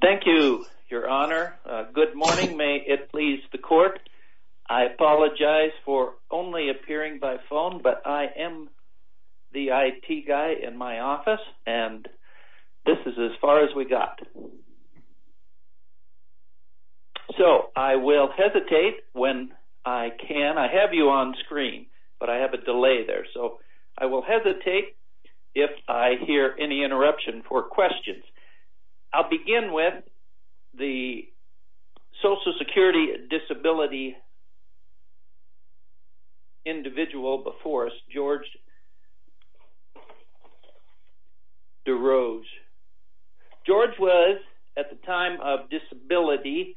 Thank you, your honor. Good morning. May it please the court. I apologize for only appearing by phone, but I am the IT guy in my office, and this is as far as we got. So I will hesitate when I can. I have you on screen, but I have a delay there. So I will hesitate if I hear any interruption for questions. I'll begin with the Social Security disability individual before us, George Durose. George was, at the time of disability,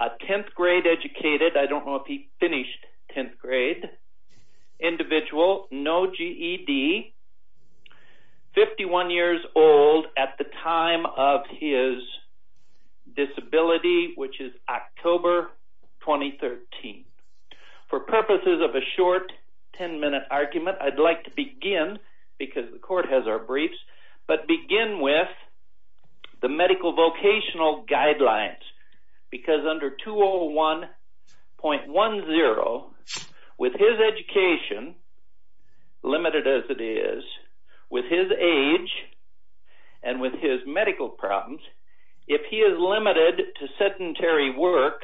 a 10th grade educated, I don't know if he finished 10th grade, individual, no GED, 51 years old at the time of his disability, which is October 2013. For purposes of a short 10-minute argument, I'd like to begin, because the court has our briefs, but begin with the medical vocational guidelines. Because under 201.10, with his education, limited as it is, with his age, and with his medical problems, if he is limited to sedentary work,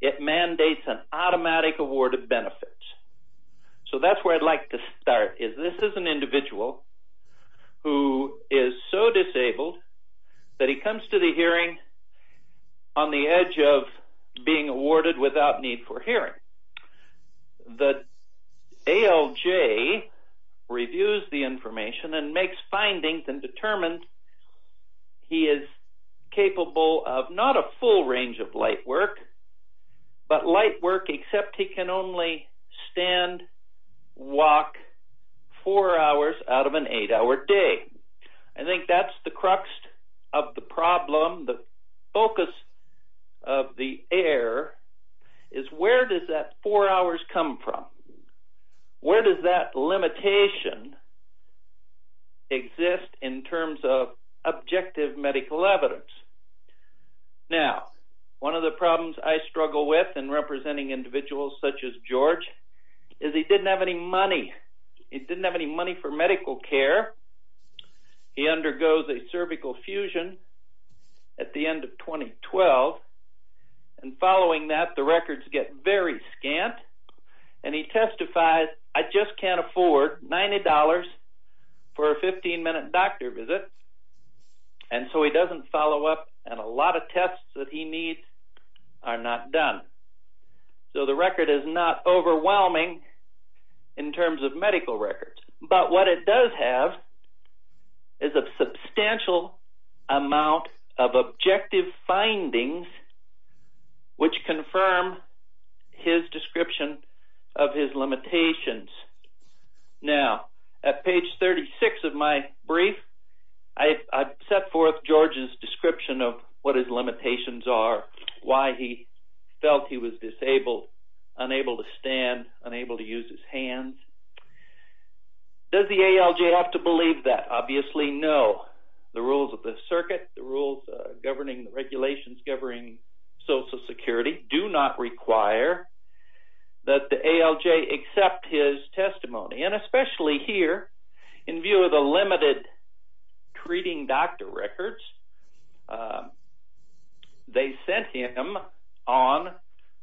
it mandates an automatic award of benefits. So that's where I'd like to start, is this is an individual who is so disabled that he comes to the hearing on the edge of being awarded without need for hearing. The ALJ reviews the information and makes findings and determines he is capable of not a full range of light work, but light work except he can only stand, walk, four hours out of an eight-hour day. I think that's the crux of the problem, the focus of the error, is where does that four hours come from? Where does that limitation exist in terms of objective medical evidence? Now, one of the problems I struggle with in representing individuals such as George is he didn't have any money. He didn't have any money for medical care. He undergoes a cervical fusion at the end of 2012, and following that, the records get very scant, and he testifies, I just can't afford $90 for a 15-minute doctor visit. And so he doesn't follow up, and a lot of tests that he needs are not done. So the record is not overwhelming in terms of medical records, but what it does have is a substantial amount of objective findings which confirm his description of his limitations. Now, at page 36 of my brief, I set forth George's description of what his limitations are, why he felt he was disabled, unable to stand, unable to use his hands. Does the ALJ have to believe that? Obviously, no. The rules of the circuit, the rules governing the regulations governing Social Security do not require that the ALJ accept his testimony. And especially here, in view of the limited treating doctor records, they sent him on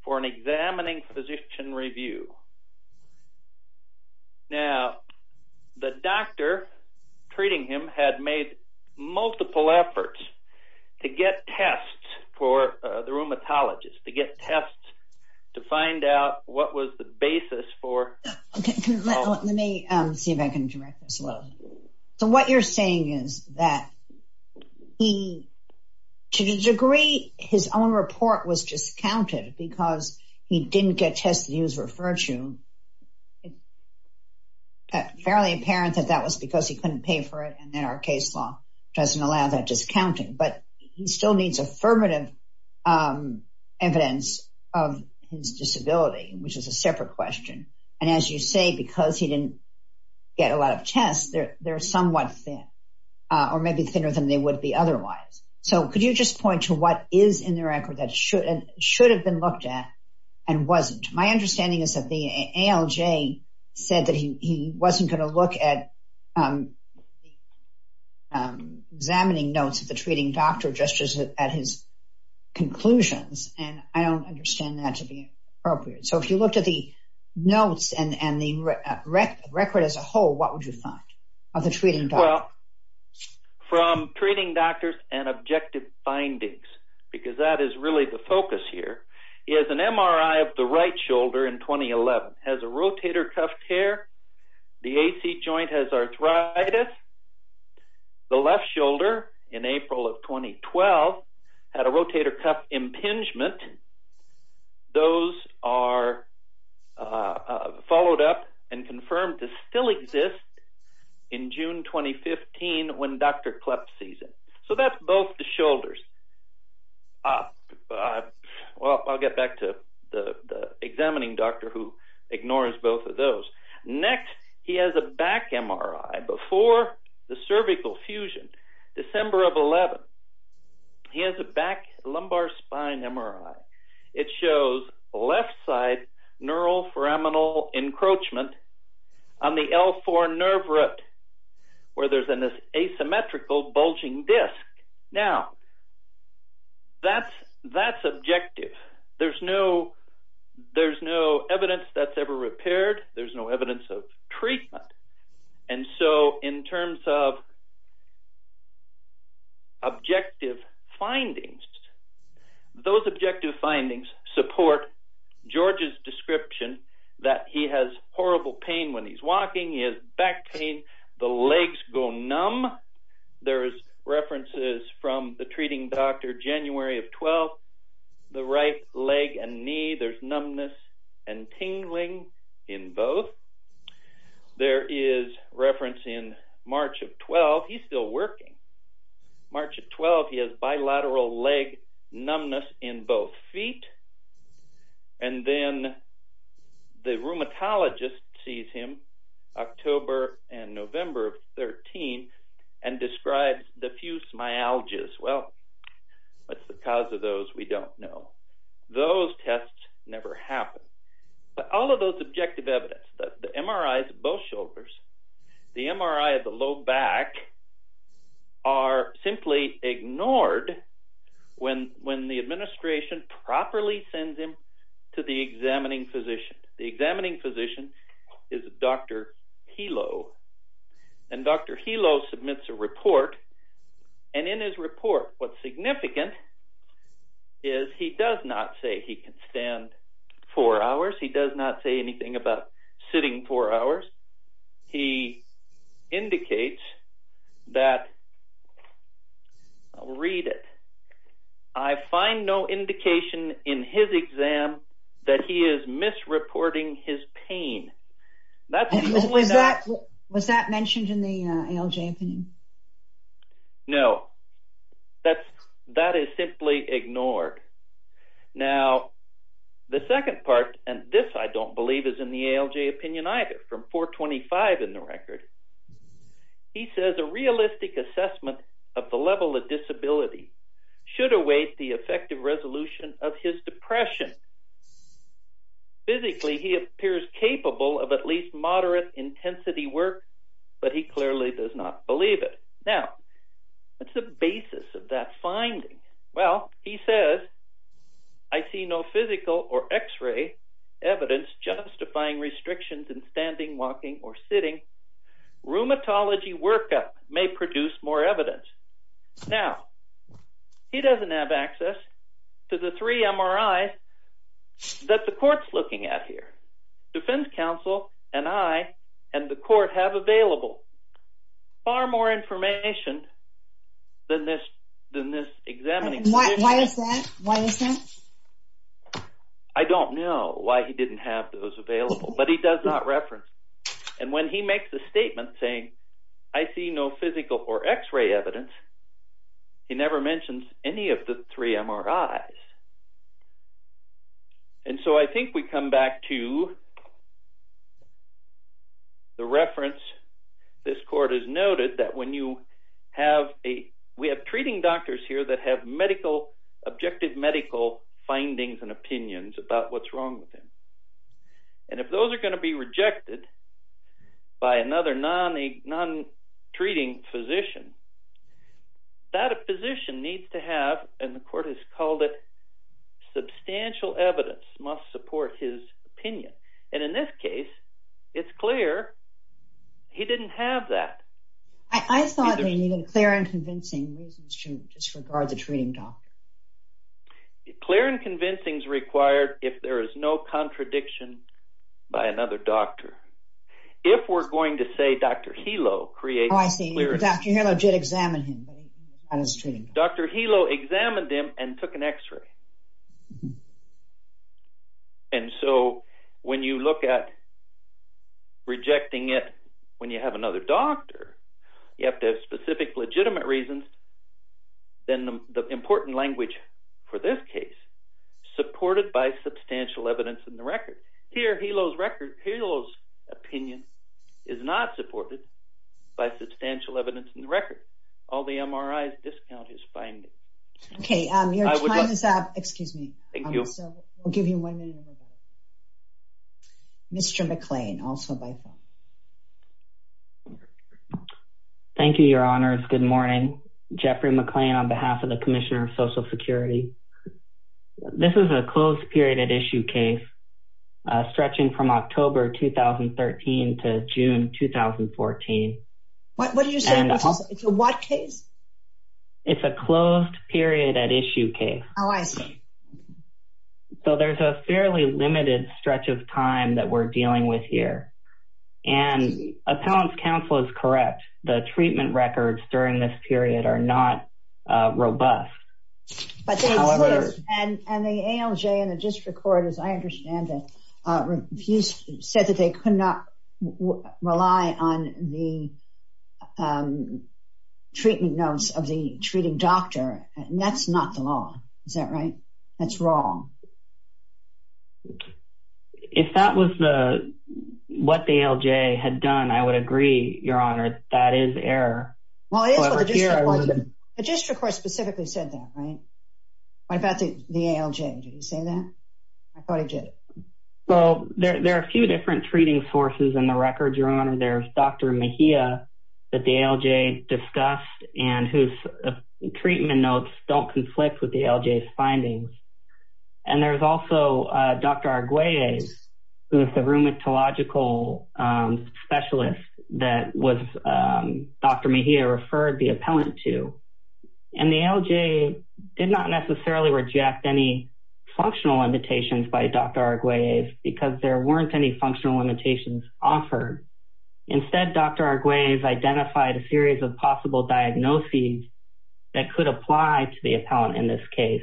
for an examining physician review. Now, the doctor treating him had made multiple efforts to get tests for the rheumatologist, to get tests to find out what was the basis for... Let me see if I can direct this. So what you're saying is that he, to a degree, his own report was discounted because he didn't get tested, he was referred to. It's fairly apparent that that was because he couldn't pay for it, and then our case law doesn't allow that discounting. But he still needs affirmative evidence of his disability, which is a separate question. And as you say, because he didn't get a lot of tests, they're somewhat thin, or maybe thinner than they would be otherwise. So could you just point to what is in the record that should have been looked at and wasn't? My understanding is that the ALJ said that he wasn't going to look at the examining notes of the treating doctor just as at his conclusions, and I don't understand that to be appropriate. So if you looked at the notes and the record as a whole, what would you find of the treating doctor? Well, from treating doctors and objective findings, because that is really the focus here, he has an MRI of the right shoulder in 2011, has a rotator cuff tear, the AC joint has arthritis, the left shoulder in April of 2012 had a rotator cuff impingement. Those are followed up and confirmed to still exist in June 2015 when Dr. Klepp sees it. So that's both the shoulders. Well, I'll get back to the examining doctor who ignores both of those. Next, he has a back MRI before the cervical fusion, December of 2011. He has a back lumbar spine MRI. It shows left side neuroforaminal encroachment on the L4 nerve root where there's an asymmetrical bulging disc. Now, that's objective. There's no evidence that's ever repaired. There's no evidence of treatment. And so in terms of objective findings, those objective findings support George's description that he has horrible pain when he's walking, he has back pain, the legs go numb. There's references from the treating doctor January of 12, the right leg and knee, there's numbness and tingling in both. There is reference in March of 12, he's still working. March of 12, he has bilateral leg numbness in both feet. And then the rheumatologist sees him October and November of 13 and describes diffuse myalgias. Well, what's the cause of those? We don't know. Those tests never happen. But all of those objective evidence, the MRIs of both shoulders, the MRI of the low back are simply ignored when the administration properly sends him to the examining physician. The examining physician is Dr. Hilo. And Dr. Hilo submits a report. And in his report, what's significant is he does not say he can stand four hours. He does not say anything about sitting four hours. He indicates that, I'll read it, I find no indication in his exam that he is misreporting his pain. Was that mentioned in the ALJ opinion? No. That is simply ignored. Now, the second part, and this I don't believe is in the ALJ opinion either, from 425 in the record. He says a realistic assessment of the level of disability should await the effective resolution of his depression. Physically, he appears capable of at least moderate intensity work, but he clearly does not believe it. Now, what's the basis of that finding? Well, he says, I see no physical or x-ray evidence justifying restrictions in standing, walking, or sitting. Rheumatology workup may produce more evidence. Now, he doesn't have access to the three MRIs that the court's looking at here. Defense counsel and I and the court have available far more information than this examining physician. Why is that? Why is that? I don't know why he didn't have those available, but he does not reference them. And when he makes the statement saying, I see no physical or x-ray evidence, he never mentions any of the three MRIs. And so I think we come back to the reference this court has noted that when you have a, we have treating doctors here that have medical, objective medical findings and opinions about what's wrong with him. And if those are going to be rejected by another non-treating physician, that a physician needs to have, and the court has called it, substantial evidence must support his opinion. And in this case, it's clear he didn't have that. I thought they needed clear and convincing reasons to disregard the treating doctor. Clear and convincing is required if there is no contradiction by another doctor. If we're going to say Dr. Helo created... Oh, I see. Dr. Helo did examine him. Dr. Helo examined him and took an x-ray. And so when you look at rejecting it when you have another doctor, you have to have specific legitimate reasons. Then the important language for this case, supported by substantial evidence in the record. Here, Helo's record, Helo's opinion is not supported by substantial evidence in the record. All the MRIs discount his findings. Okay, your time is up. Excuse me. Thank you. I'll give you one minute. Mr. McClain, also by phone. Thank you, Your Honors. Good morning. Jeffrey McClain on behalf of the Commissioner of Social Security. This is a closed period at issue case stretching from October 2013 to June 2014. What are you saying? It's a what case? It's a closed period at issue case. Oh, I see. So there's a fairly limited stretch of time that we're dealing with here. And appellant's counsel is correct. The treatment records during this period are not robust. And the ALJ and the district court, as I understand it, said that they could not rely on the treatment notes of the treating doctor. And that's not the law. Is that right? That's wrong. If that was what the ALJ had done, I would agree, Your Honor. That is error. The district court specifically said that, right? What about the ALJ? Did he say that? I thought he did. Well, there are a few different treating sources in the records, Your Honor. There's Dr. Mejia that the ALJ discussed and whose treatment notes don't conflict with the ALJ's findings. And there's also Dr. Arguelles, who is the rheumatological specialist that Dr. Mejia referred the appellant to. And the ALJ did not necessarily reject any functional limitations by Dr. Arguelles because there weren't any functional limitations offered. Instead, Dr. Arguelles identified a series of possible diagnoses that could apply to the appellant in this case.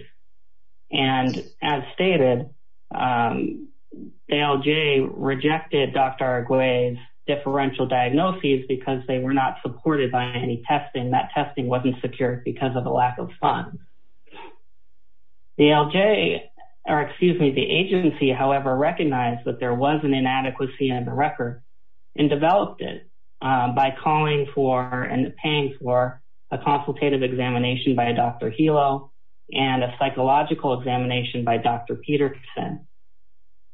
And as stated, the ALJ rejected Dr. Arguelles' differential diagnoses because they were not supported by any testing. That testing wasn't secure because of a lack of funds. The ALJ, or excuse me, the agency, however, recognized that there was an inadequacy in the record and developed it by calling for and paying for a consultative examination by Dr. Hilo and a psychological examination by Dr. Peterson.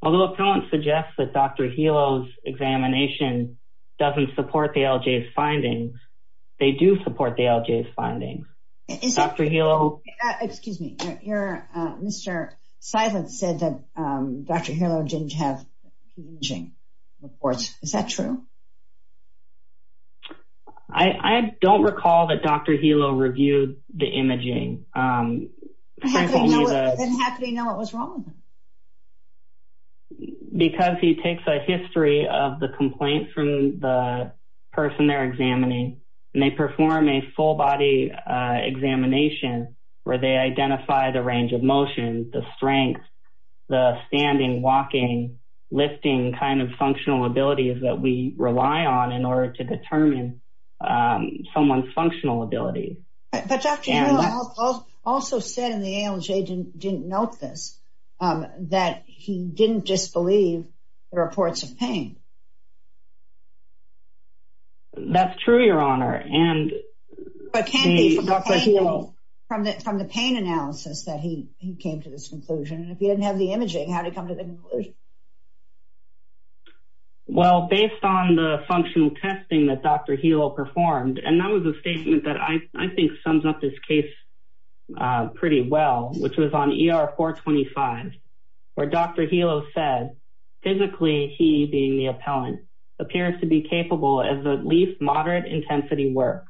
Although appellants suggest that Dr. Hilo's examination doesn't support the ALJ's findings, they do support the ALJ's findings. Dr. Hilo... Excuse me. Mr. Silent said that Dr. Hilo didn't have imaging reports. Is that true? I don't recall that Dr. Hilo reviewed the imaging. Then how could he know what was wrong? Because he takes a history of the complaint from the person they're examining and they perform a full body examination where they identify the range of motion, the strength, the standing, walking, lifting kind of functional abilities that we rely on in order to determine someone's functional ability. But Dr. Hilo also said in the ALJ didn't note this, that he didn't disbelieve the reports of pain. That's true, Your Honor. But can it be from the pain analysis that he came to this conclusion? If he didn't have the imaging, how did he come to this conclusion? Well, based on the functional testing that Dr. Hilo performed, and that was a statement that I think sums up this case pretty well, which was on ER 425, where Dr. Hilo said physically he, being the appellant, appears to be capable of at least moderate intensity work.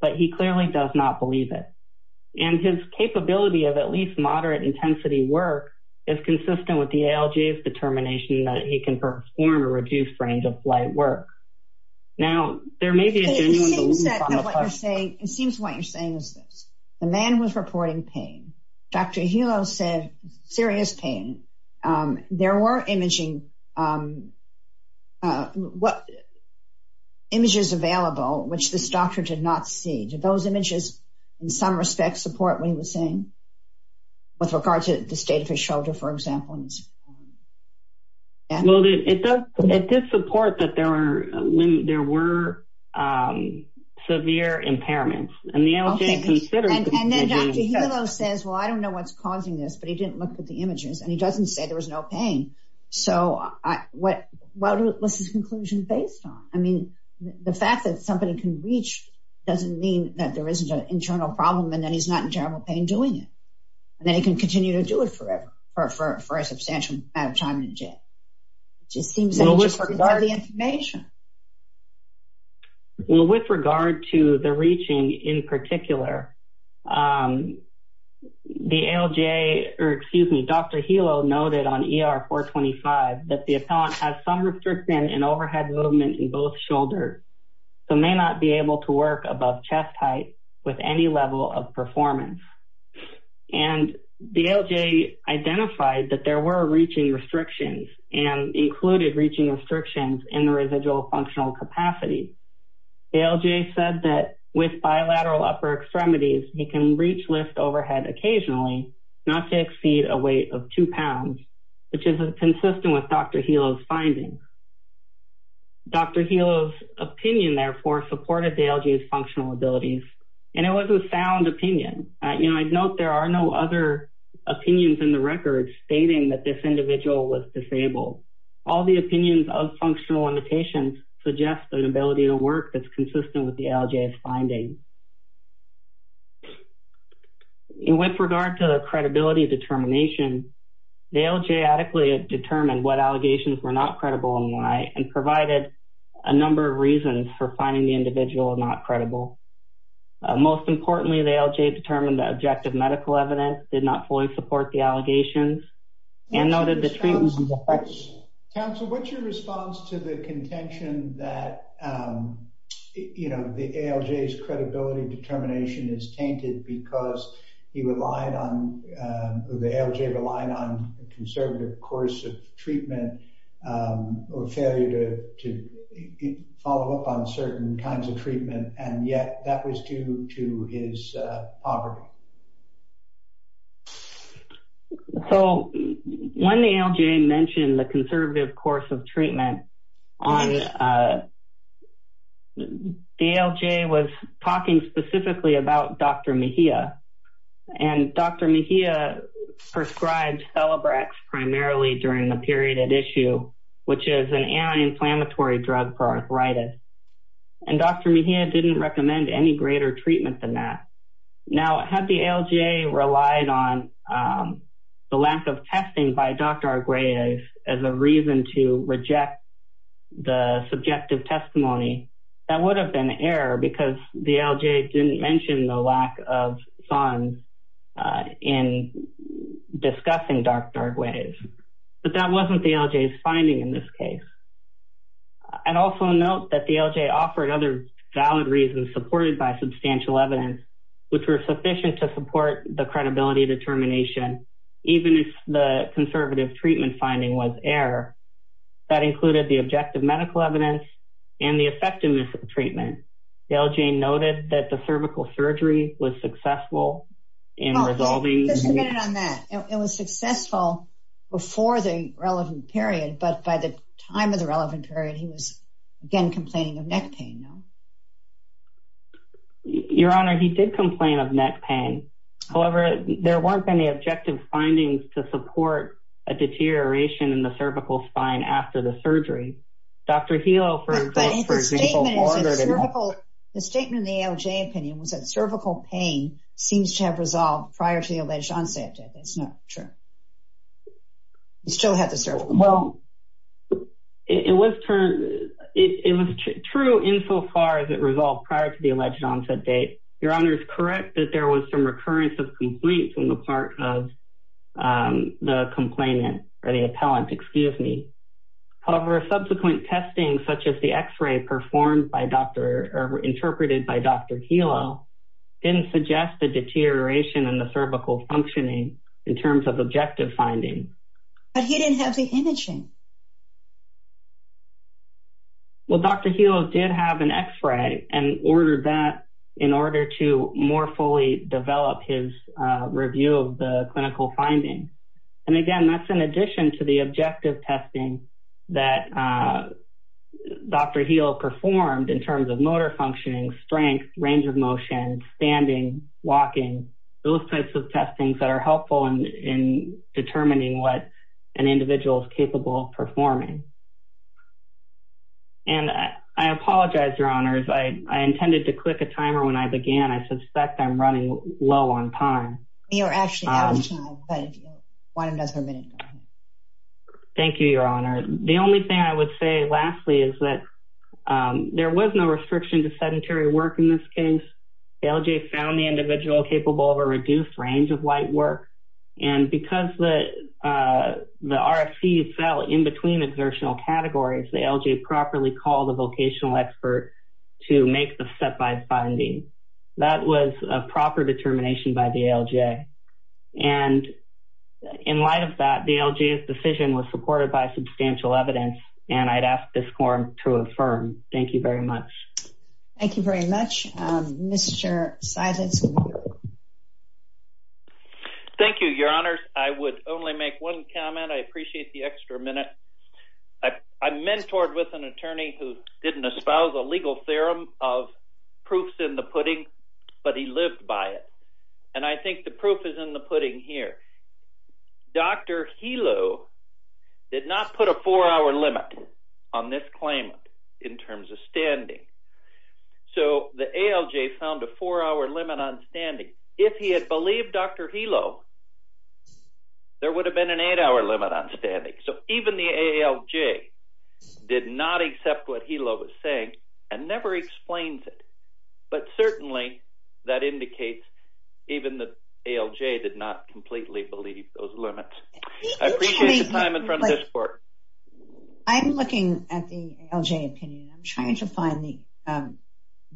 But he clearly does not believe it. And his capability of at least moderate intensity work is consistent with the ALJ's determination that he can perform a reduced range of flight work. Now, there may be a genuine belief on the part of... It seems that what you're saying, it seems what you're saying is this. The man was reporting pain. Dr. Hilo said serious pain. There were imaging, images available which this doctor did not see. Do those images in some respect support what he was saying? With regard to the state of his shoulder, for example? Well, it did support that there were severe impairments. And then Dr. Hilo says, well, I don't know what's causing this, but he didn't look at the images, and he doesn't say there was no pain. So what's his conclusion based on? I mean, the fact that somebody can reach doesn't mean that there isn't an internal problem and that he's not in terrible pain doing it. And then he can continue to do it forever for a substantial amount of time in jail. It just seems that he doesn't have the information. Well, with regard to the reaching in particular, the ALJ, or excuse me, Dr. Hilo noted on ER 425 that the appellant has some restriction in overhead movement in both shoulders, so may not be able to work above chest height with any level of performance. And the ALJ identified that there were reaching restrictions and included reaching restrictions in the residual functional capacity. ALJ said that with bilateral upper extremities, he can reach lift overhead occasionally, not to exceed a weight of two pounds, which is consistent with Dr. Hilo's findings. Dr. Hilo's opinion, therefore, supported the ALJ's functional abilities, and it was a sound opinion. You know, I'd note there are no other opinions in the record stating that this individual was disabled. All the opinions of functional limitations suggest an ability to work that's consistent with the ALJ's findings. With regard to the credibility determination, the ALJ adequately determined what allegations were not credible and why, and provided a number of reasons for finding the individual not credible. Most importantly, the ALJ determined that objective medical evidence did not fully support the allegations and noted the treatment... Council, what's your response to the contention that, you know, the ALJ's credibility determination is tainted because he relied on, the ALJ relied on a conservative course of treatment or failure to follow up on certain kinds of treatment, and yet that was due to his poverty? So, when the ALJ mentioned the conservative course of treatment, the ALJ was talking specifically about Dr. Mejia, and Dr. Mejia prescribed Celebrex primarily during the period at issue, which is an anti-inflammatory drug for arthritis, and Dr. Mejia didn't recommend any greater treatment than that. Now, had the ALJ relied on the lack of testing by Dr. Arguelles as a reason to reject the subjective testimony, that would have been error because the ALJ didn't mention the lack of funds in discussing Dr. Arguelles, but that wasn't the ALJ's finding in this case. I'd also note that the ALJ offered other valid reasons supported by substantial evidence, which were sufficient to support the credibility determination, even if the conservative treatment finding was error. That included the objective medical evidence and the effectiveness of the treatment. The ALJ noted that the cervical surgery was successful in resolving... Just a minute on that. It was successful before the relevant period, but by the time of the relevant period, he was, again, complaining of neck pain, no? Your Honor, he did complain of neck pain. However, there weren't any objective findings to support a deterioration in the cervical spine after the surgery. Dr. Helo, for example... But if the statement is a cervical... The statement in the ALJ opinion was that cervical pain seems to have resolved prior to the alleged onset. That's not true. He still had the cervical pain. It was true insofar as it resolved prior to the alleged onset date. Your Honor is correct that there was some recurrence of complaints on the part of the complainant, or the appellant, excuse me. However, subsequent testing, such as the x-ray performed by Dr., or interpreted by Dr. Helo, didn't suggest a deterioration in the cervical functioning in terms of objective findings. But he didn't have the imaging. Well, Dr. Helo did have an x-ray and ordered that in order to more fully develop his review of the clinical findings. And, again, that's in addition to the objective testing that Dr. Helo performed in terms of motor functioning, strength, range of motion, standing, walking. Those types of testings that are helpful in determining what an individual is capable of performing. And I apologize, Your Honors. I intended to click a timer when I began. I suspect I'm running low on time. You're actually out of time, but why don't you guys have a minute? Thank you, Your Honor. The only thing I would say, lastly, is that there was no restriction to sedentary work in this case. The LJ found the individual capable of a reduced range of white work. And because the RFC fell in between exertional categories, the LJ properly called a vocational expert to make the step-by finding. That was a proper determination by the LJ. And in light of that, the LJ's decision was supported by substantial evidence, and I'd ask this quorum to affirm. Thank you very much. Thank you very much. Mr. Seidlitz? Thank you, Your Honors. I would only make one comment. I appreciate the extra minute. I mentored with an attorney who didn't espouse a legal theorem of proofs in the pudding, but he lived by it. And I think the proof is in the pudding here. Dr. Helo did not put a four-hour limit on this claimant in terms of standing. So the ALJ found a four-hour limit on standing. If he had believed Dr. Helo, there would have been an eight-hour limit on standing. So even the ALJ did not accept what Helo was saying and never explained it. But certainly, that indicates even the ALJ did not completely believe those limits. I appreciate the time in front of this court. I'm looking at the ALJ opinion. I'm trying to find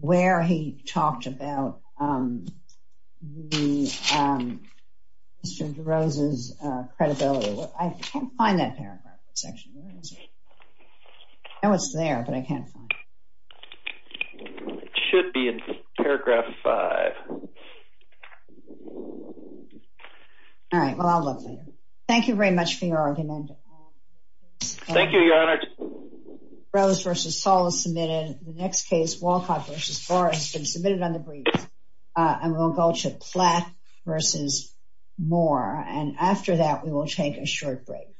where he talked about Mr. DeRosa's credibility. I can't find that paragraph. I know it's there, but I can't find it. It should be in paragraph five. All right. Well, I'll look later. Thank you very much for your argument. Thank you, Your Honor. Rose v. Saul is submitted. The next case, Walcott v. Barr, has been submitted on the brief. And we'll go to Platt v. Moore. And after that, we will take a short break.